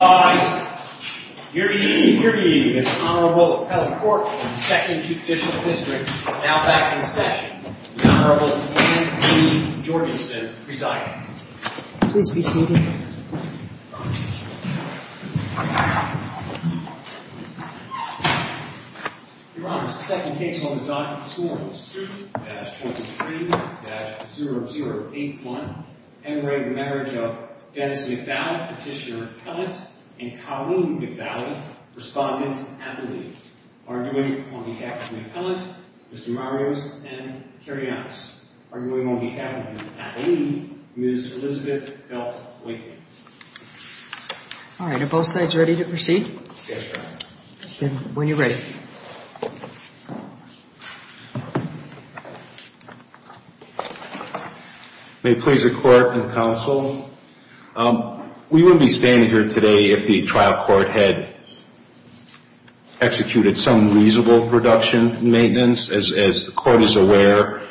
All rise. Hear ye, hear ye, this Honorable Appellate Court of the Second Judicial District is now back in session. The Honorable Anne B. Jorgensen presiding. Please be seated. Your Honor, the second case on the docket for this morning is suit-23-0081, Henry, the marriage of Dennis McDowell, Petitioner-Appellant, and Colleen McDowell, Respondent-Appellee, arguing on behalf of the Appellant, Mr. Marios, and Kerry Adams. Arguing on behalf of the Appellee, Ms. Elizabeth Belt-Whitney. All right, are both sides ready to proceed? Yes, Your Honor. Then, when you're ready. Thank you. May it please the Court and the Counsel. We would be standing here today if the trial court had executed some reasonable production and maintenance. As the Court is aware,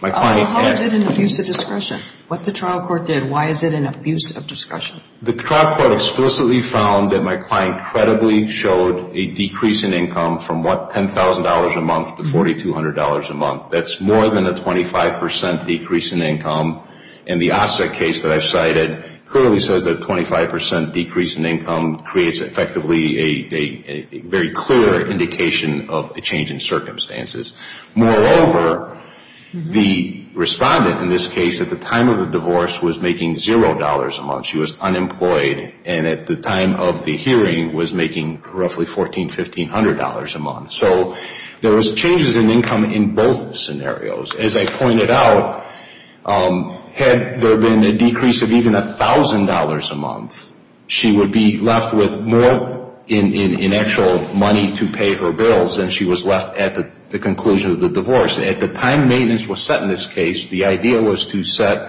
my client... How is it an abuse of discretion? What the trial court did, why is it an abuse of discretion? The trial court explicitly found that my client credibly showed a decrease in income from, what, $10,000 a month to $4,200 a month. That's more than a 25% decrease in income. And the Osset case that I've cited clearly says that a 25% decrease in income creates effectively a very clear indication of a change in circumstances. Moreover, the respondent in this case at the time of the divorce was making $0 a month. She was unemployed and at the time of the hearing was making roughly $1,400, $1,500 a month. So there was changes in income in both scenarios. As I pointed out, had there been a decrease of even $1,000 a month, she would be left with more in actual money to pay her bills than she was left at the conclusion of the divorce. At the time maintenance was set in this case, the idea was to set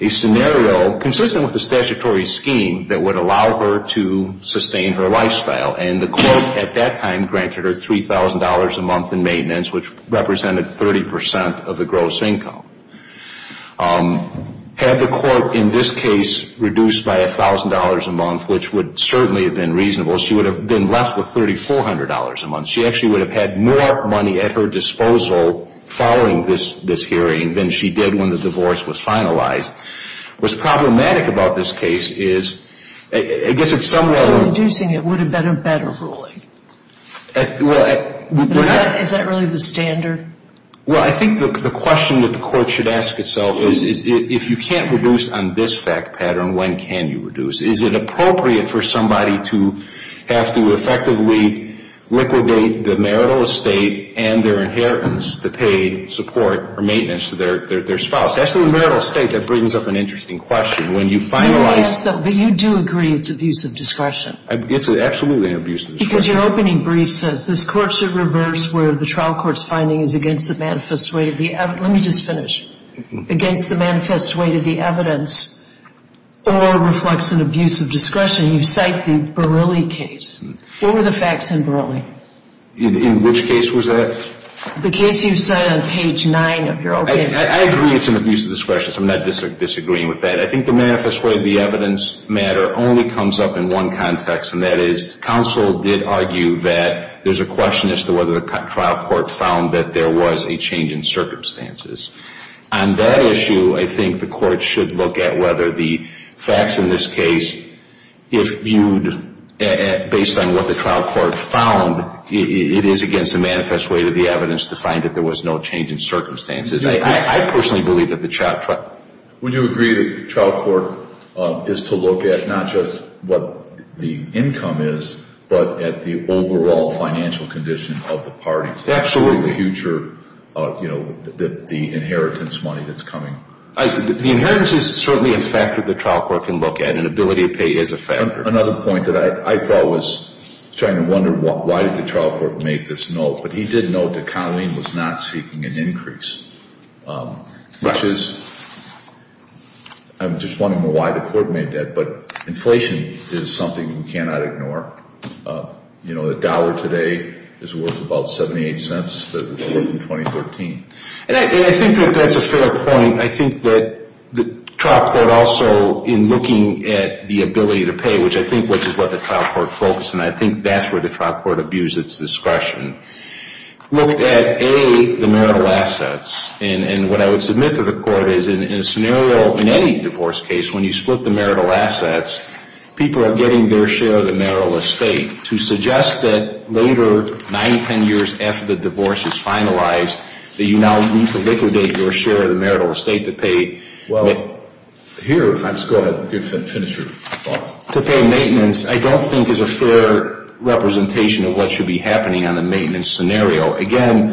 a scenario consistent with the statutory scheme that would allow her to sustain her lifestyle. And the Court at that time granted her $3,000 a month in maintenance, which represented 30% of the gross income. Had the Court in this case reduced by $1,000 a month, which would certainly have been reasonable, she would have been left with $3,400 a month. She actually would have had more money at her disposal following this hearing than she did when the divorce was finalized. What's problematic about this case is, I guess it's somewhat... So reducing it would have been a better ruling? Well, we're not... Is that really the standard? Well, I think the question that the Court should ask itself is, if you can't reduce on this fact pattern, when can you reduce? Is it appropriate for somebody to have to effectively liquidate the marital estate and their inheritance to pay support or maintenance to their spouse? Actually, marital estate, that brings up an interesting question. When you finalize... But you do agree it's abuse of discretion. It's absolutely an abuse of discretion. Because your opening brief says, this Court should reverse where the trial court's finding is against the manifest weight of the evidence. Let me just finish. Against the manifest weight of the evidence or reflects an abuse of discretion. You cite the Barilli case. What were the facts in Barilli? In which case was that? The case you cite on page 9 of your opening brief. I agree it's an abuse of discretion, so I'm not disagreeing with that. I think the manifest weight of the evidence matter only comes up in one context, and that is counsel did argue that there's a question as to whether the trial court found that there was a change in circumstances. On that issue, I think the court should look at whether the facts in this case, if viewed based on what the trial court found, it is against the manifest weight of the evidence to find that there was no change in circumstances. I personally believe that the trial court... But at the overall financial condition of the parties. Absolutely. The future, you know, the inheritance money that's coming. The inheritance is certainly a factor the trial court can look at, and ability to pay is a factor. Another point that I thought was, I was trying to wonder why did the trial court make this note, but he did note that Colleen was not seeking an increase. Right. Which is, I'm just wondering why the court made that, but inflation is something we cannot ignore. You know, a dollar today is worth about 78 cents than it was in 2013. And I think that that's a fair point. I think that the trial court also, in looking at the ability to pay, which I think is what the trial court focused, and I think that's where the trial court abused its discretion, looked at, A, the marital assets. And what I would submit to the court is, in a scenario, in any divorce case, when you split the marital assets, people are getting their share of the marital estate. To suggest that later, 9, 10 years after the divorce is finalized, that you now need to liquidate your share of the marital estate to pay. Well, here, if I could just go ahead and finish your thought. To pay maintenance, I don't think is a fair representation of what should be happening on a maintenance scenario. Again,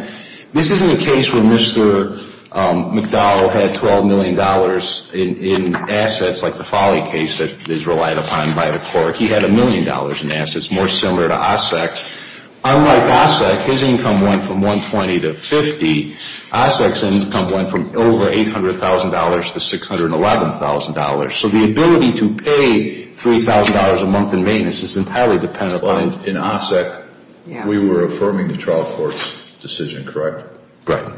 this isn't a case where Mr. McDowell had $12 million in assets, like the Folly case that is relied upon by the court. He had $1 million in assets, more similar to Ossek. Unlike Ossek, his income went from $120,000 to $50,000. Ossek's income went from over $800,000 to $611,000. So the ability to pay $3,000 a month in maintenance is entirely dependent on, in Ossek, we were affirming the trial court's decision, correct? Correct.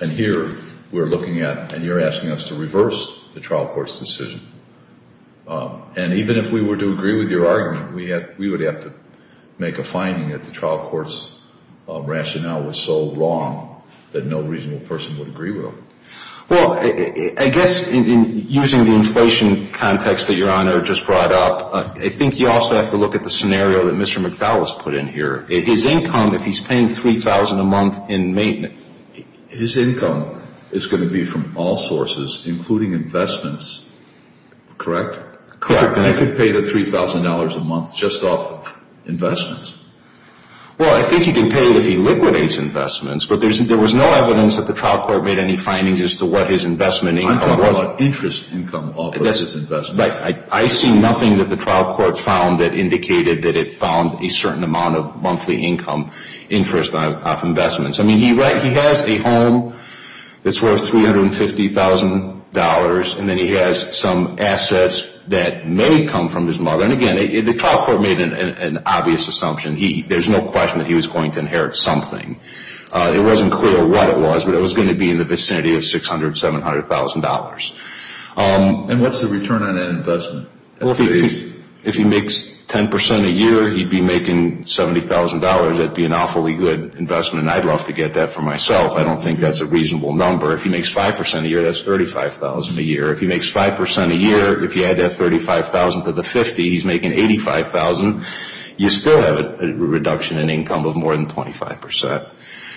And here, we're looking at, and you're asking us to reverse the trial court's decision. And even if we were to agree with your argument, we would have to make a finding that the trial court's rationale was so wrong that no reasonable person would agree with them. Well, I guess, using the inflation context that Your Honor just brought up, I think you also have to look at the scenario that Mr. McDowell has put in here. His income, if he's paying $3,000 a month in maintenance. His income is going to be from all sources, including investments, correct? Correct. I could pay the $3,000 a month just off investments. Well, I think you can pay it if he liquidates investments, but there was no evidence that the trial court made any findings as to what his investment income was. I'm talking about interest income off of his investments. I see nothing that the trial court found that indicated that it found a certain amount of monthly income interest off investments. I mean, he has a home that's worth $350,000, and then he has some assets that may come from his mother. And again, the trial court made an obvious assumption. There's no question that he was going to inherit something. It wasn't clear what it was, but it was going to be in the vicinity of $600,000, $700,000. And what's the return on that investment? Well, if he makes 10% a year, he'd be making $70,000. That'd be an awfully good investment, and I'd love to get that for myself. I don't think that's a reasonable number. If he makes 5% a year, that's $35,000 a year. If he makes 5% a year, if you add that $35,000 to the 50, he's making $85,000. You still have a reduction in income of more than 25%.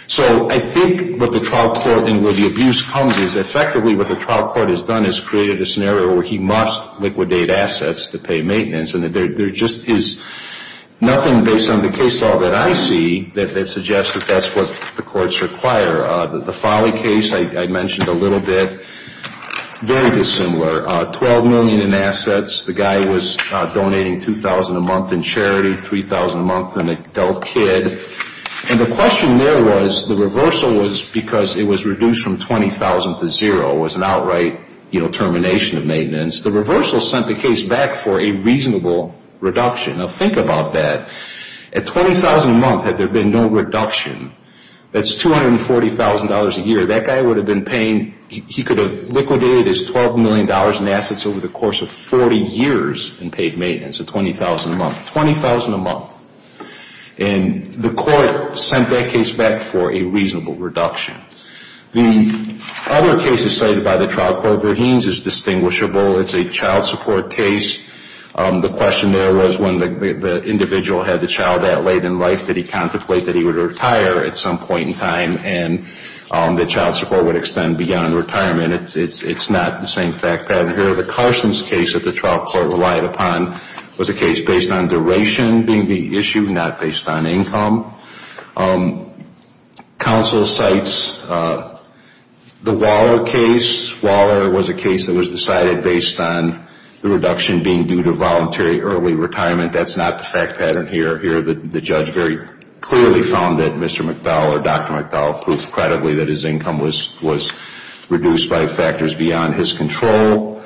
So I think what the trial court and where the abuse comes is effectively what the trial court has done is created a scenario where he must liquidate assets to pay maintenance, and there just is nothing based on the case law that I see that suggests that that's what the courts require. The Folly case I mentioned a little bit, very dissimilar. $12 million in assets. The guy was donating $2,000 a month in charity, $3,000 a month to an adult kid. The question there was the reversal was because it was reduced from $20,000 to $0. It was an outright termination of maintenance. The reversal sent the case back for a reasonable reduction. Now think about that. At $20,000 a month, had there been no reduction, that's $240,000 a year. That guy would have been paying. He could have liquidated his $12 million in assets over the course of 40 years in paid maintenance at $20,000 a month. $20,000 a month. And the court sent that case back for a reasonable reduction. The other case cited by the trial court, Verheens, is distinguishable. It's a child support case. The question there was when the individual had the child that late in life, did he contemplate that he would retire at some point in time and that child support would extend beyond retirement? It's not the same fact pattern here. The Carson's case that the trial court relied upon was a case based on duration being the issue, not based on income. Counsel cites the Waller case. Waller was a case that was decided based on the reduction being due to voluntary early retirement. That's not the fact pattern here. The judge very clearly found that Mr. McDowell or Dr. McDowell proved credibly that his income was reduced by factors beyond his control.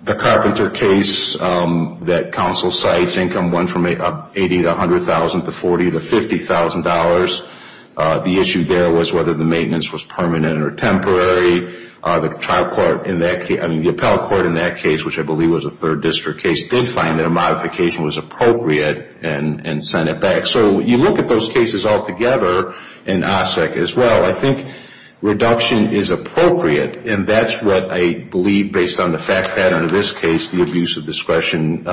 The Carpenter case that counsel cites, income went from $80,000 to $100,000 to $40,000 to $50,000. The issue there was whether the maintenance was permanent or temporary. The trial court in that case, I mean the appellate court in that case, which I believe was a third district case, did find that a modification was appropriate and sent it back. So you look at those cases all together in OSSEC as well. I think reduction is appropriate, and that's what I believe based on the fact pattern in this case, the abuse of discretion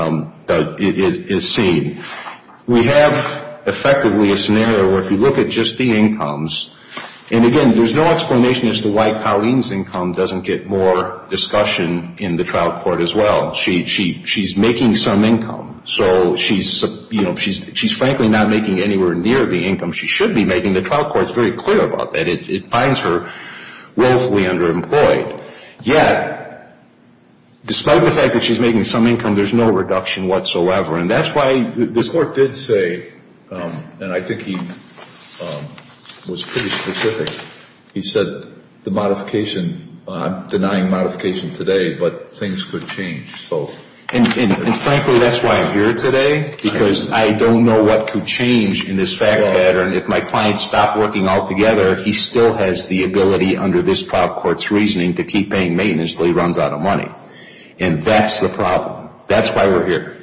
is seen. We have effectively a scenario where if you look at just the incomes, and again there's no explanation as to why Colleen's income doesn't get more discussion in the trial court as well. She's making some income. So she's frankly not making anywhere near the income she should be making. The trial court is very clear about that. It finds her willfully underemployed. Yet despite the fact that she's making some income, there's no reduction whatsoever. And that's why this court did say, and I think he was pretty specific, he said the modification, I'm denying modification today, but things could change. And frankly that's why I'm here today, because I don't know what could change in this fact pattern. If my client stopped working altogether, he still has the ability under this trial court's reasoning to keep paying maintenance And that's the problem. That's why we're here.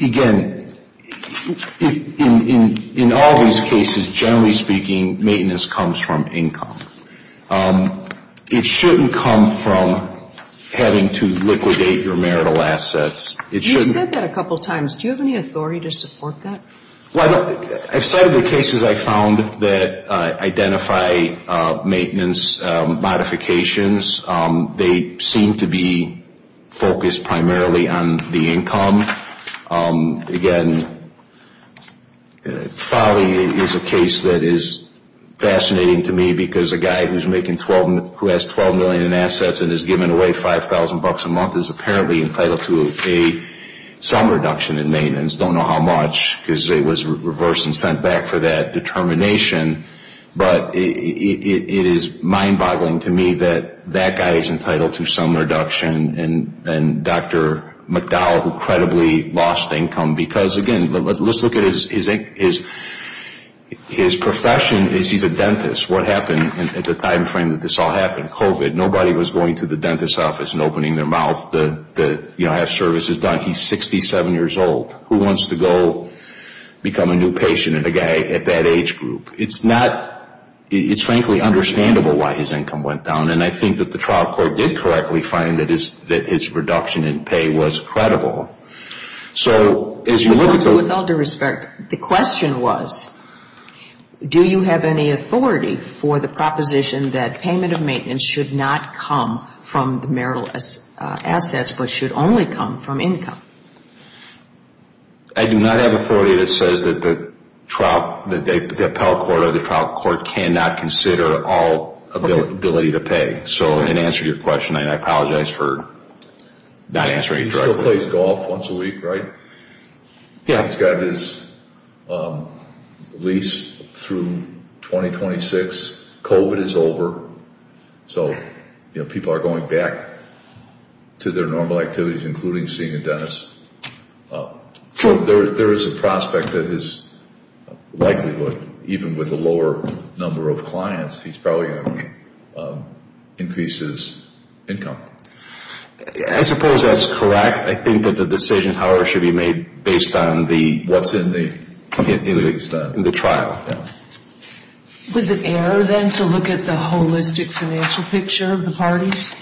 Again, in all these cases, generally speaking, maintenance comes from income. It shouldn't come from having to liquidate your marital assets. You've said that a couple times. Do you have any authority to support that? Well, I've cited the cases I've found that identify maintenance modifications. They seem to be focused primarily on the income. Again, Foley is a case that is fascinating to me, because a guy who has $12 million in assets and is giving away $5,000 a month is apparently entitled to some reduction in maintenance. I don't know how much, because it was reversed and sent back for that determination. But it is mind-boggling to me that that guy is entitled to some reduction, and Dr. McDowell, who credibly lost income because, again, let's look at his profession. He's a dentist. What happened at the time frame that this all happened? COVID. Nobody was going to the dentist's office and opening their mouth to have services done. He's 67 years old. Who wants to go become a new patient and a guy at that age group? It's frankly understandable why his income went down, and I think that the trial court did correctly find that his reduction in pay was credible. With all due respect, the question was, do you have any authority for the proposition that payment of maintenance should not come from the marital assets but should only come from income? I do not have authority that says that the appellate court or the trial court cannot consider all ability to pay. So in answer to your question, I apologize for not answering it directly. He still plays golf once a week, right? Yeah. He's got his lease through 2026. COVID is over. So people are going back to their normal activities, including seeing a dentist. There is a prospect that his likelihood, even with a lower number of clients, he's probably going to increase his income. I suppose that's correct. I think that the decision, however, should be made based on what's in the trial. Was it error, then, to look at the holistic financial picture of the parties?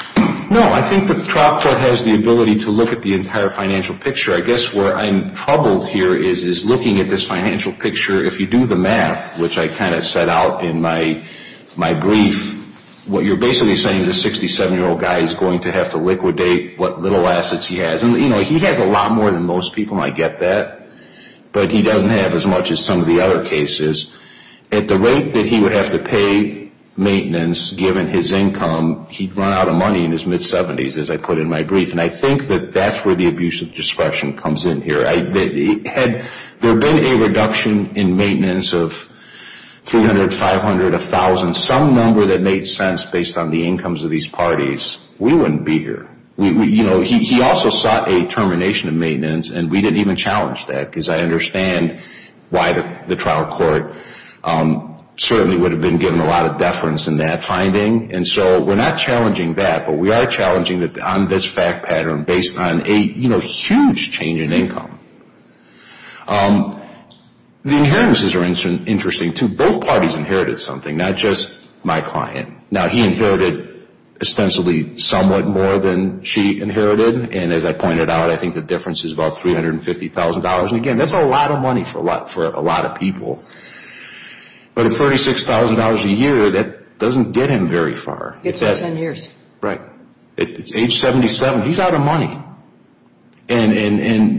No, I think the trial court has the ability to look at the entire financial picture. I guess where I'm troubled here is looking at this financial picture, if you do the math, which I kind of set out in my brief, what you're basically saying is a 67-year-old guy is going to have to liquidate what little assets he has. He has a lot more than most people, and I get that, but he doesn't have as much as some of the other cases. At the rate that he would have to pay maintenance, given his income, he'd run out of money in his mid-70s, as I put in my brief. And I think that that's where the abuse of discretion comes in here. Had there been a reduction in maintenance of 300, 500, 1,000, some number that made sense based on the incomes of these parties, we wouldn't be here. He also sought a termination of maintenance, and we didn't even challenge that, because I understand why the trial court certainly would have been given a lot of deference in that finding. And so we're not challenging that, but we are challenging it on this fact pattern based on a huge change in income. The inheritances are interesting, too. Both parties inherited something, not just my client. Now, he inherited ostensibly somewhat more than she inherited, and as I pointed out, I think the difference is about $350,000. And, again, that's a lot of money for a lot of people. But at $36,000 a year, that doesn't get him very far. Gets him 10 years. Right. At age 77, he's out of money. They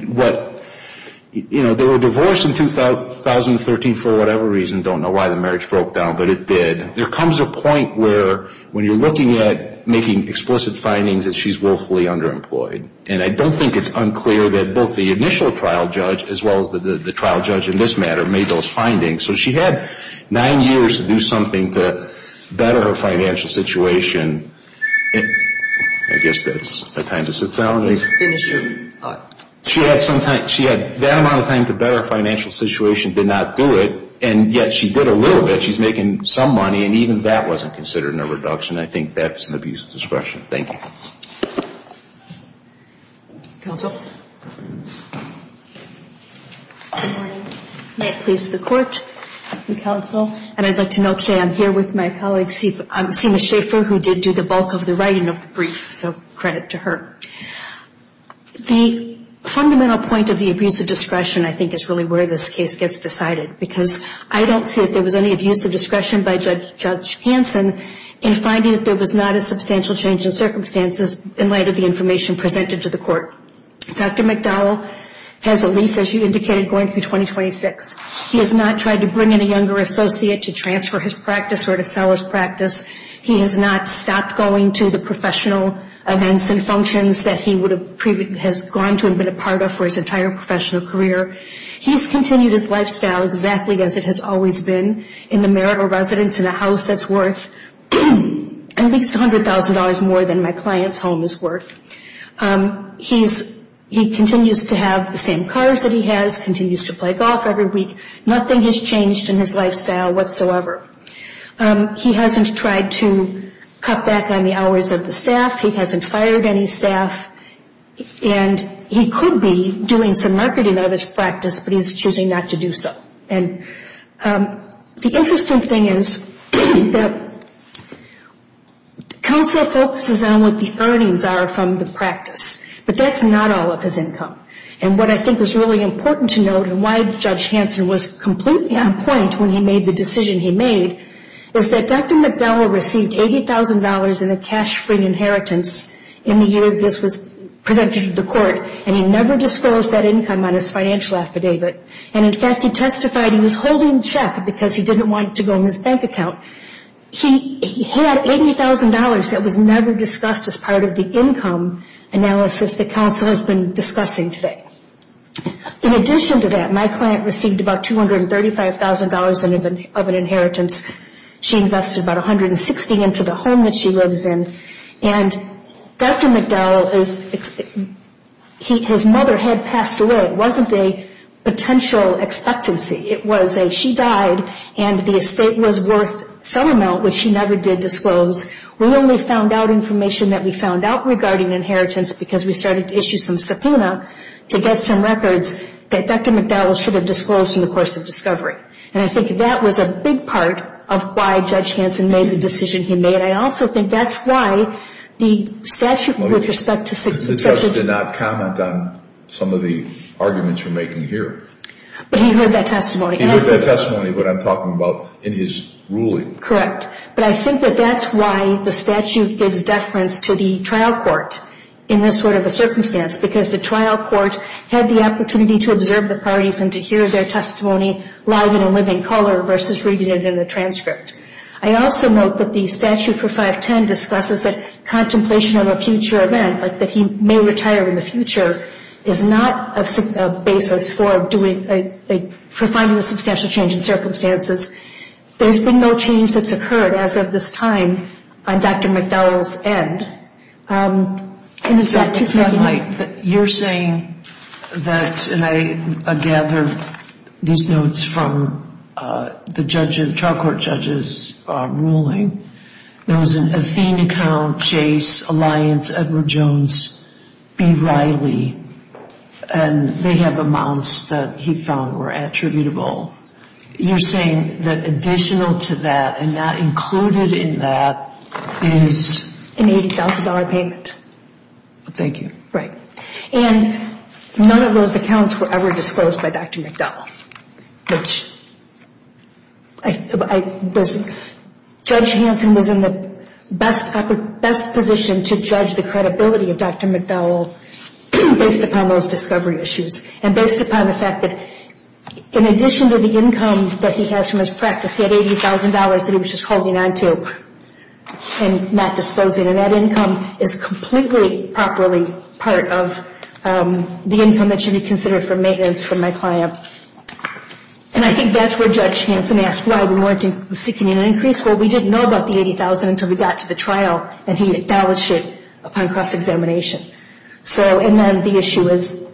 were divorced in 2013 for whatever reason. Don't know why the marriage broke down, but it did. There comes a point where, when you're looking at making explicit findings, that she's woefully underemployed. And I don't think it's unclear that both the initial trial judge, as well as the trial judge in this matter, made those findings. So she had nine years to do something to better her financial situation. I guess that's the time to sit down. Finish your thought. She had that amount of time to better her financial situation, did not do it, and yet she did a little bit. So she's making some money, and even that wasn't considered in a reduction. I think that's an abuse of discretion. Thank you. Counsel. Good morning. May it please the Court and counsel. And I'd like to note today I'm here with my colleague, Seema Shaffer, who did do the bulk of the writing of the brief. So credit to her. The fundamental point of the abuse of discretion, I think, is really where this case gets decided. Because I don't see that there was any abuse of discretion by Judge Hanson in finding that there was not a substantial change in circumstances in light of the information presented to the Court. Dr. McDowell has at least, as you indicated, going through 2026. He has not tried to bring in a younger associate to transfer his practice or to sell his practice. He has not stopped going to the professional events and functions that he has gone to and been a part of for his entire professional career. He's continued his lifestyle exactly as it has always been, in the merit of residence in a house that's worth at least $100,000 more than my client's home is worth. He continues to have the same cars that he has, continues to play golf every week. Nothing has changed in his lifestyle whatsoever. He hasn't tried to cut back on the hours of the staff. He hasn't fired any staff. He could be doing some marketing of his practice, but he's choosing not to do so. The interesting thing is that counsel focuses on what the earnings are from the practice, but that's not all of his income. What I think is really important to note and why Judge Hanson was completely on point when he made the decision he made is that Dr. McDowell received $80,000 in a cash-free inheritance in the year this was presented to the court, and he never disclosed that income on his financial affidavit. In fact, he testified he was holding check because he didn't want it to go in his bank account. He had $80,000 that was never discussed as part of the income analysis that counsel has been discussing today. In addition to that, my client received about $235,000 of an inheritance. She invested about $160,000 into the home that she lives in. And Dr. McDowell, his mother had passed away. It wasn't a potential expectancy. It was a she died and the estate was worth some amount, which she never did disclose. We only found out information that we found out regarding inheritance because we started to issue some subpoena to get some records that Dr. McDowell should have disclosed in the course of discovery. And I think that was a big part of why Judge Hanson made the decision he made. I also think that's why the statute with respect to succession. The judge did not comment on some of the arguments you're making here. But he heard that testimony. He heard that testimony, what I'm talking about, in his ruling. Correct. But I think that that's why the statute gives deference to the trial court in this sort of a circumstance because the trial court had the opportunity to observe the parties and to hear their testimony live in a living color versus reading it in a transcript. I also note that the statute for 510 discusses that contemplation of a future event, like that he may retire in the future, is not a basis for finding a substantial change in circumstances. There's been no change that's occurred as of this time on Dr. McDowell's end. You're saying that, and I gather these notes from the trial court judges' ruling, there was an Athena Count, Chase, Alliance, Edward Jones, B. Riley, and they have amounts that he found were attributable. You're saying that additional to that and not included in that is? An $80,000 payment. Thank you. Right. And none of those accounts were ever disclosed by Dr. McDowell. Judge Hanson was in the best position to judge the credibility of Dr. McDowell based upon those discovery issues and based upon the fact that in addition to the income that he has from his practice, he had $80,000 that he was just holding on to and not disposing, and that income is completely properly part of the income that should be considered for maintenance for my client. And I think that's where Judge Hanson asked why we weren't seeking an increase. Well, we didn't know about the $80,000 until we got to the trial, and he acknowledged it upon cross-examination. So, and then the issue is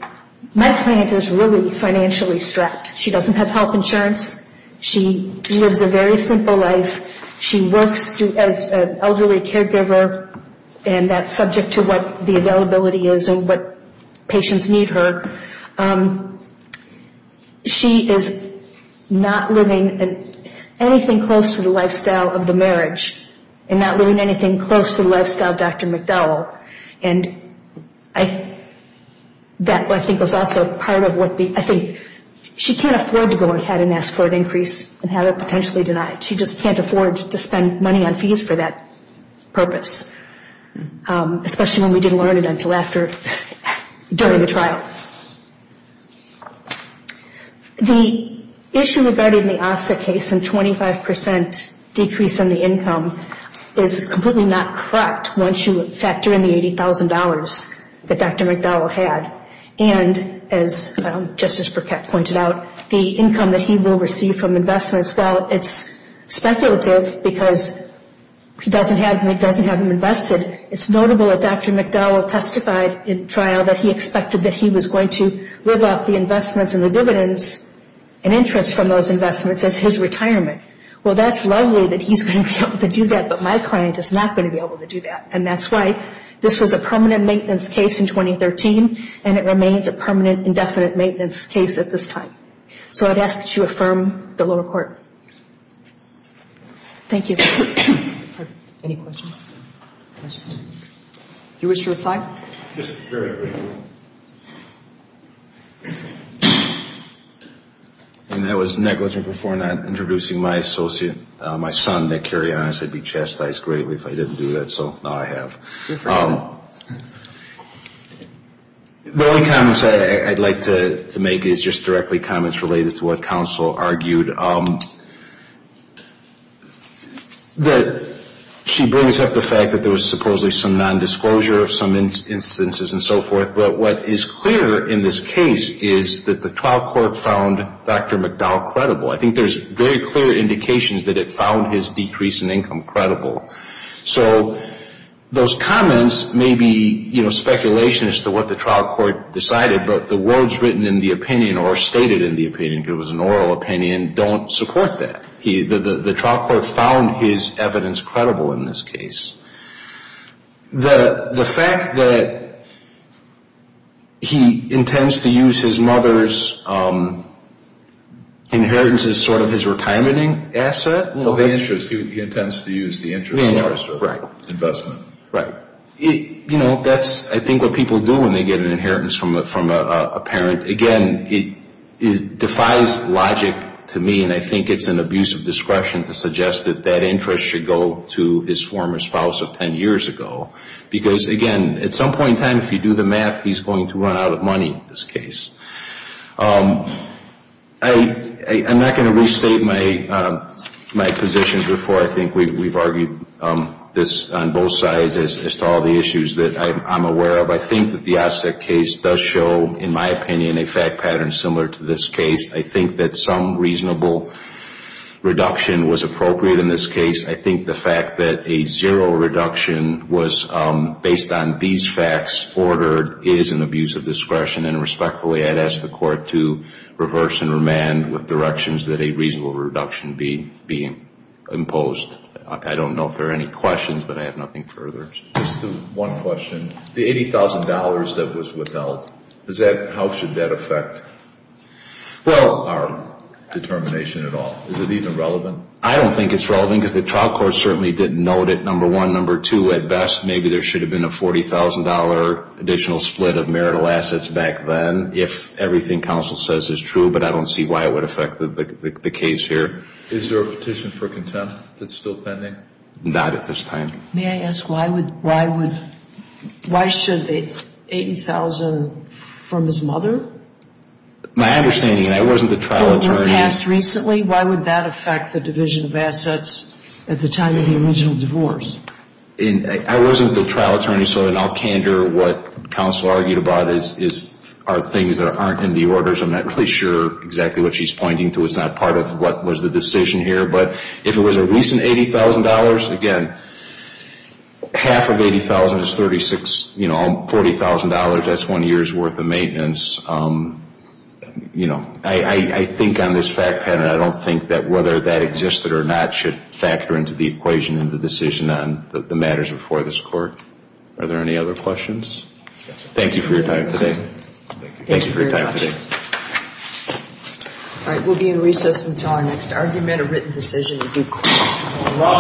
my client is really financially strapped. She doesn't have health insurance. She lives a very simple life. She works as an elderly caregiver, and that's subject to what the availability is and what patients need her. She is not living anything close to the lifestyle of the marriage and not living anything close to the lifestyle of Dr. McDowell. And that, I think, was also part of what the, I think, she can't afford to go ahead and ask for an increase and have it potentially denied. She just can't afford to spend money on fees for that purpose, especially when we didn't learn it until after, during the trial. The issue regarding the Ossa case and 25% decrease in the income is completely not correct once you factor in the $80,000 that Dr. McDowell had. And as Justice Burkett pointed out, the income that he will receive from investments, well, it's speculative because he doesn't have them invested. It's notable that Dr. McDowell testified in trial that he expected that he was going to live off the investments and the dividends and interest from those investments as his retirement. Well, that's lovely that he's going to be able to do that, but my client is not going to be able to do that. And that's why this was a permanent maintenance case in 2013 and it remains a permanent indefinite maintenance case at this time. So I'd ask that you affirm the lower court. Thank you. Any questions? You wish to reply? Just very briefly. Thank you. And that was negligent before not introducing my associate, my son, Nick Carrion. I said I'd be chastised greatly if I didn't do that, so now I have. The only comments I'd like to make is just directly comments related to what counsel argued. She brings up the fact that there was supposedly some nondisclosure of some instances and so forth, but what is clear in this case is that the trial court found Dr. McDowell credible. I think there's very clear indications that it found his decrease in income credible. So those comments may be, you know, speculation as to what the trial court decided, but the words written in the opinion or stated in the opinion, if it was an oral opinion, don't support that. The trial court found his evidence credible in this case. The fact that he intends to use his mother's inheritance as sort of his retirementing asset. He intends to use the interest. Right. Investment. Right. You know, that's, I think, what people do when they get an inheritance from a parent. Again, it defies logic to me, and I think it's an abuse of discretion to suggest that that interest should go to his former spouse of 10 years ago. Because, again, at some point in time, if you do the math, he's going to run out of money in this case. I'm not going to restate my position before I think we've argued this on both sides as to all the issues that I'm aware of. I think that the Osset case does show, in my opinion, a fact pattern similar to this case. I think that some reasonable reduction was appropriate in this case. I think the fact that a zero reduction was based on these facts ordered is an abuse of discretion. And respectfully, I'd ask the Court to reverse and remand with directions that a reasonable reduction be imposed. I don't know if there are any questions, but I have nothing further. Just one question. The $80,000 that was withheld, how should that affect our determination at all? Is it even relevant? I don't think it's relevant because the trial court certainly didn't note it, number one. And number two, at best, maybe there should have been a $40,000 additional split of marital assets back then, if everything counsel says is true, but I don't see why it would affect the case here. Is there a petition for contempt that's still pending? Not at this time. May I ask why should the $80,000 from his mother? My understanding, that wasn't the trial attorney. Why would that affect the division of assets at the time of the original divorce? I wasn't the trial attorney, so I can't hear what counsel argued about are things that aren't in the orders. I'm not really sure exactly what she's pointing to. It's not part of what was the decision here. But if it was a recent $80,000, again, half of $80,000 is $40,000. That's one year's worth of maintenance. You know, I think on this fact pattern, I don't think that whether that existed or not should factor into the equation in the decision on the matters before this Court. Are there any other questions? Thank you for your time today. Thank you for your time today. All right. We'll be in recess until our next argument or written decision.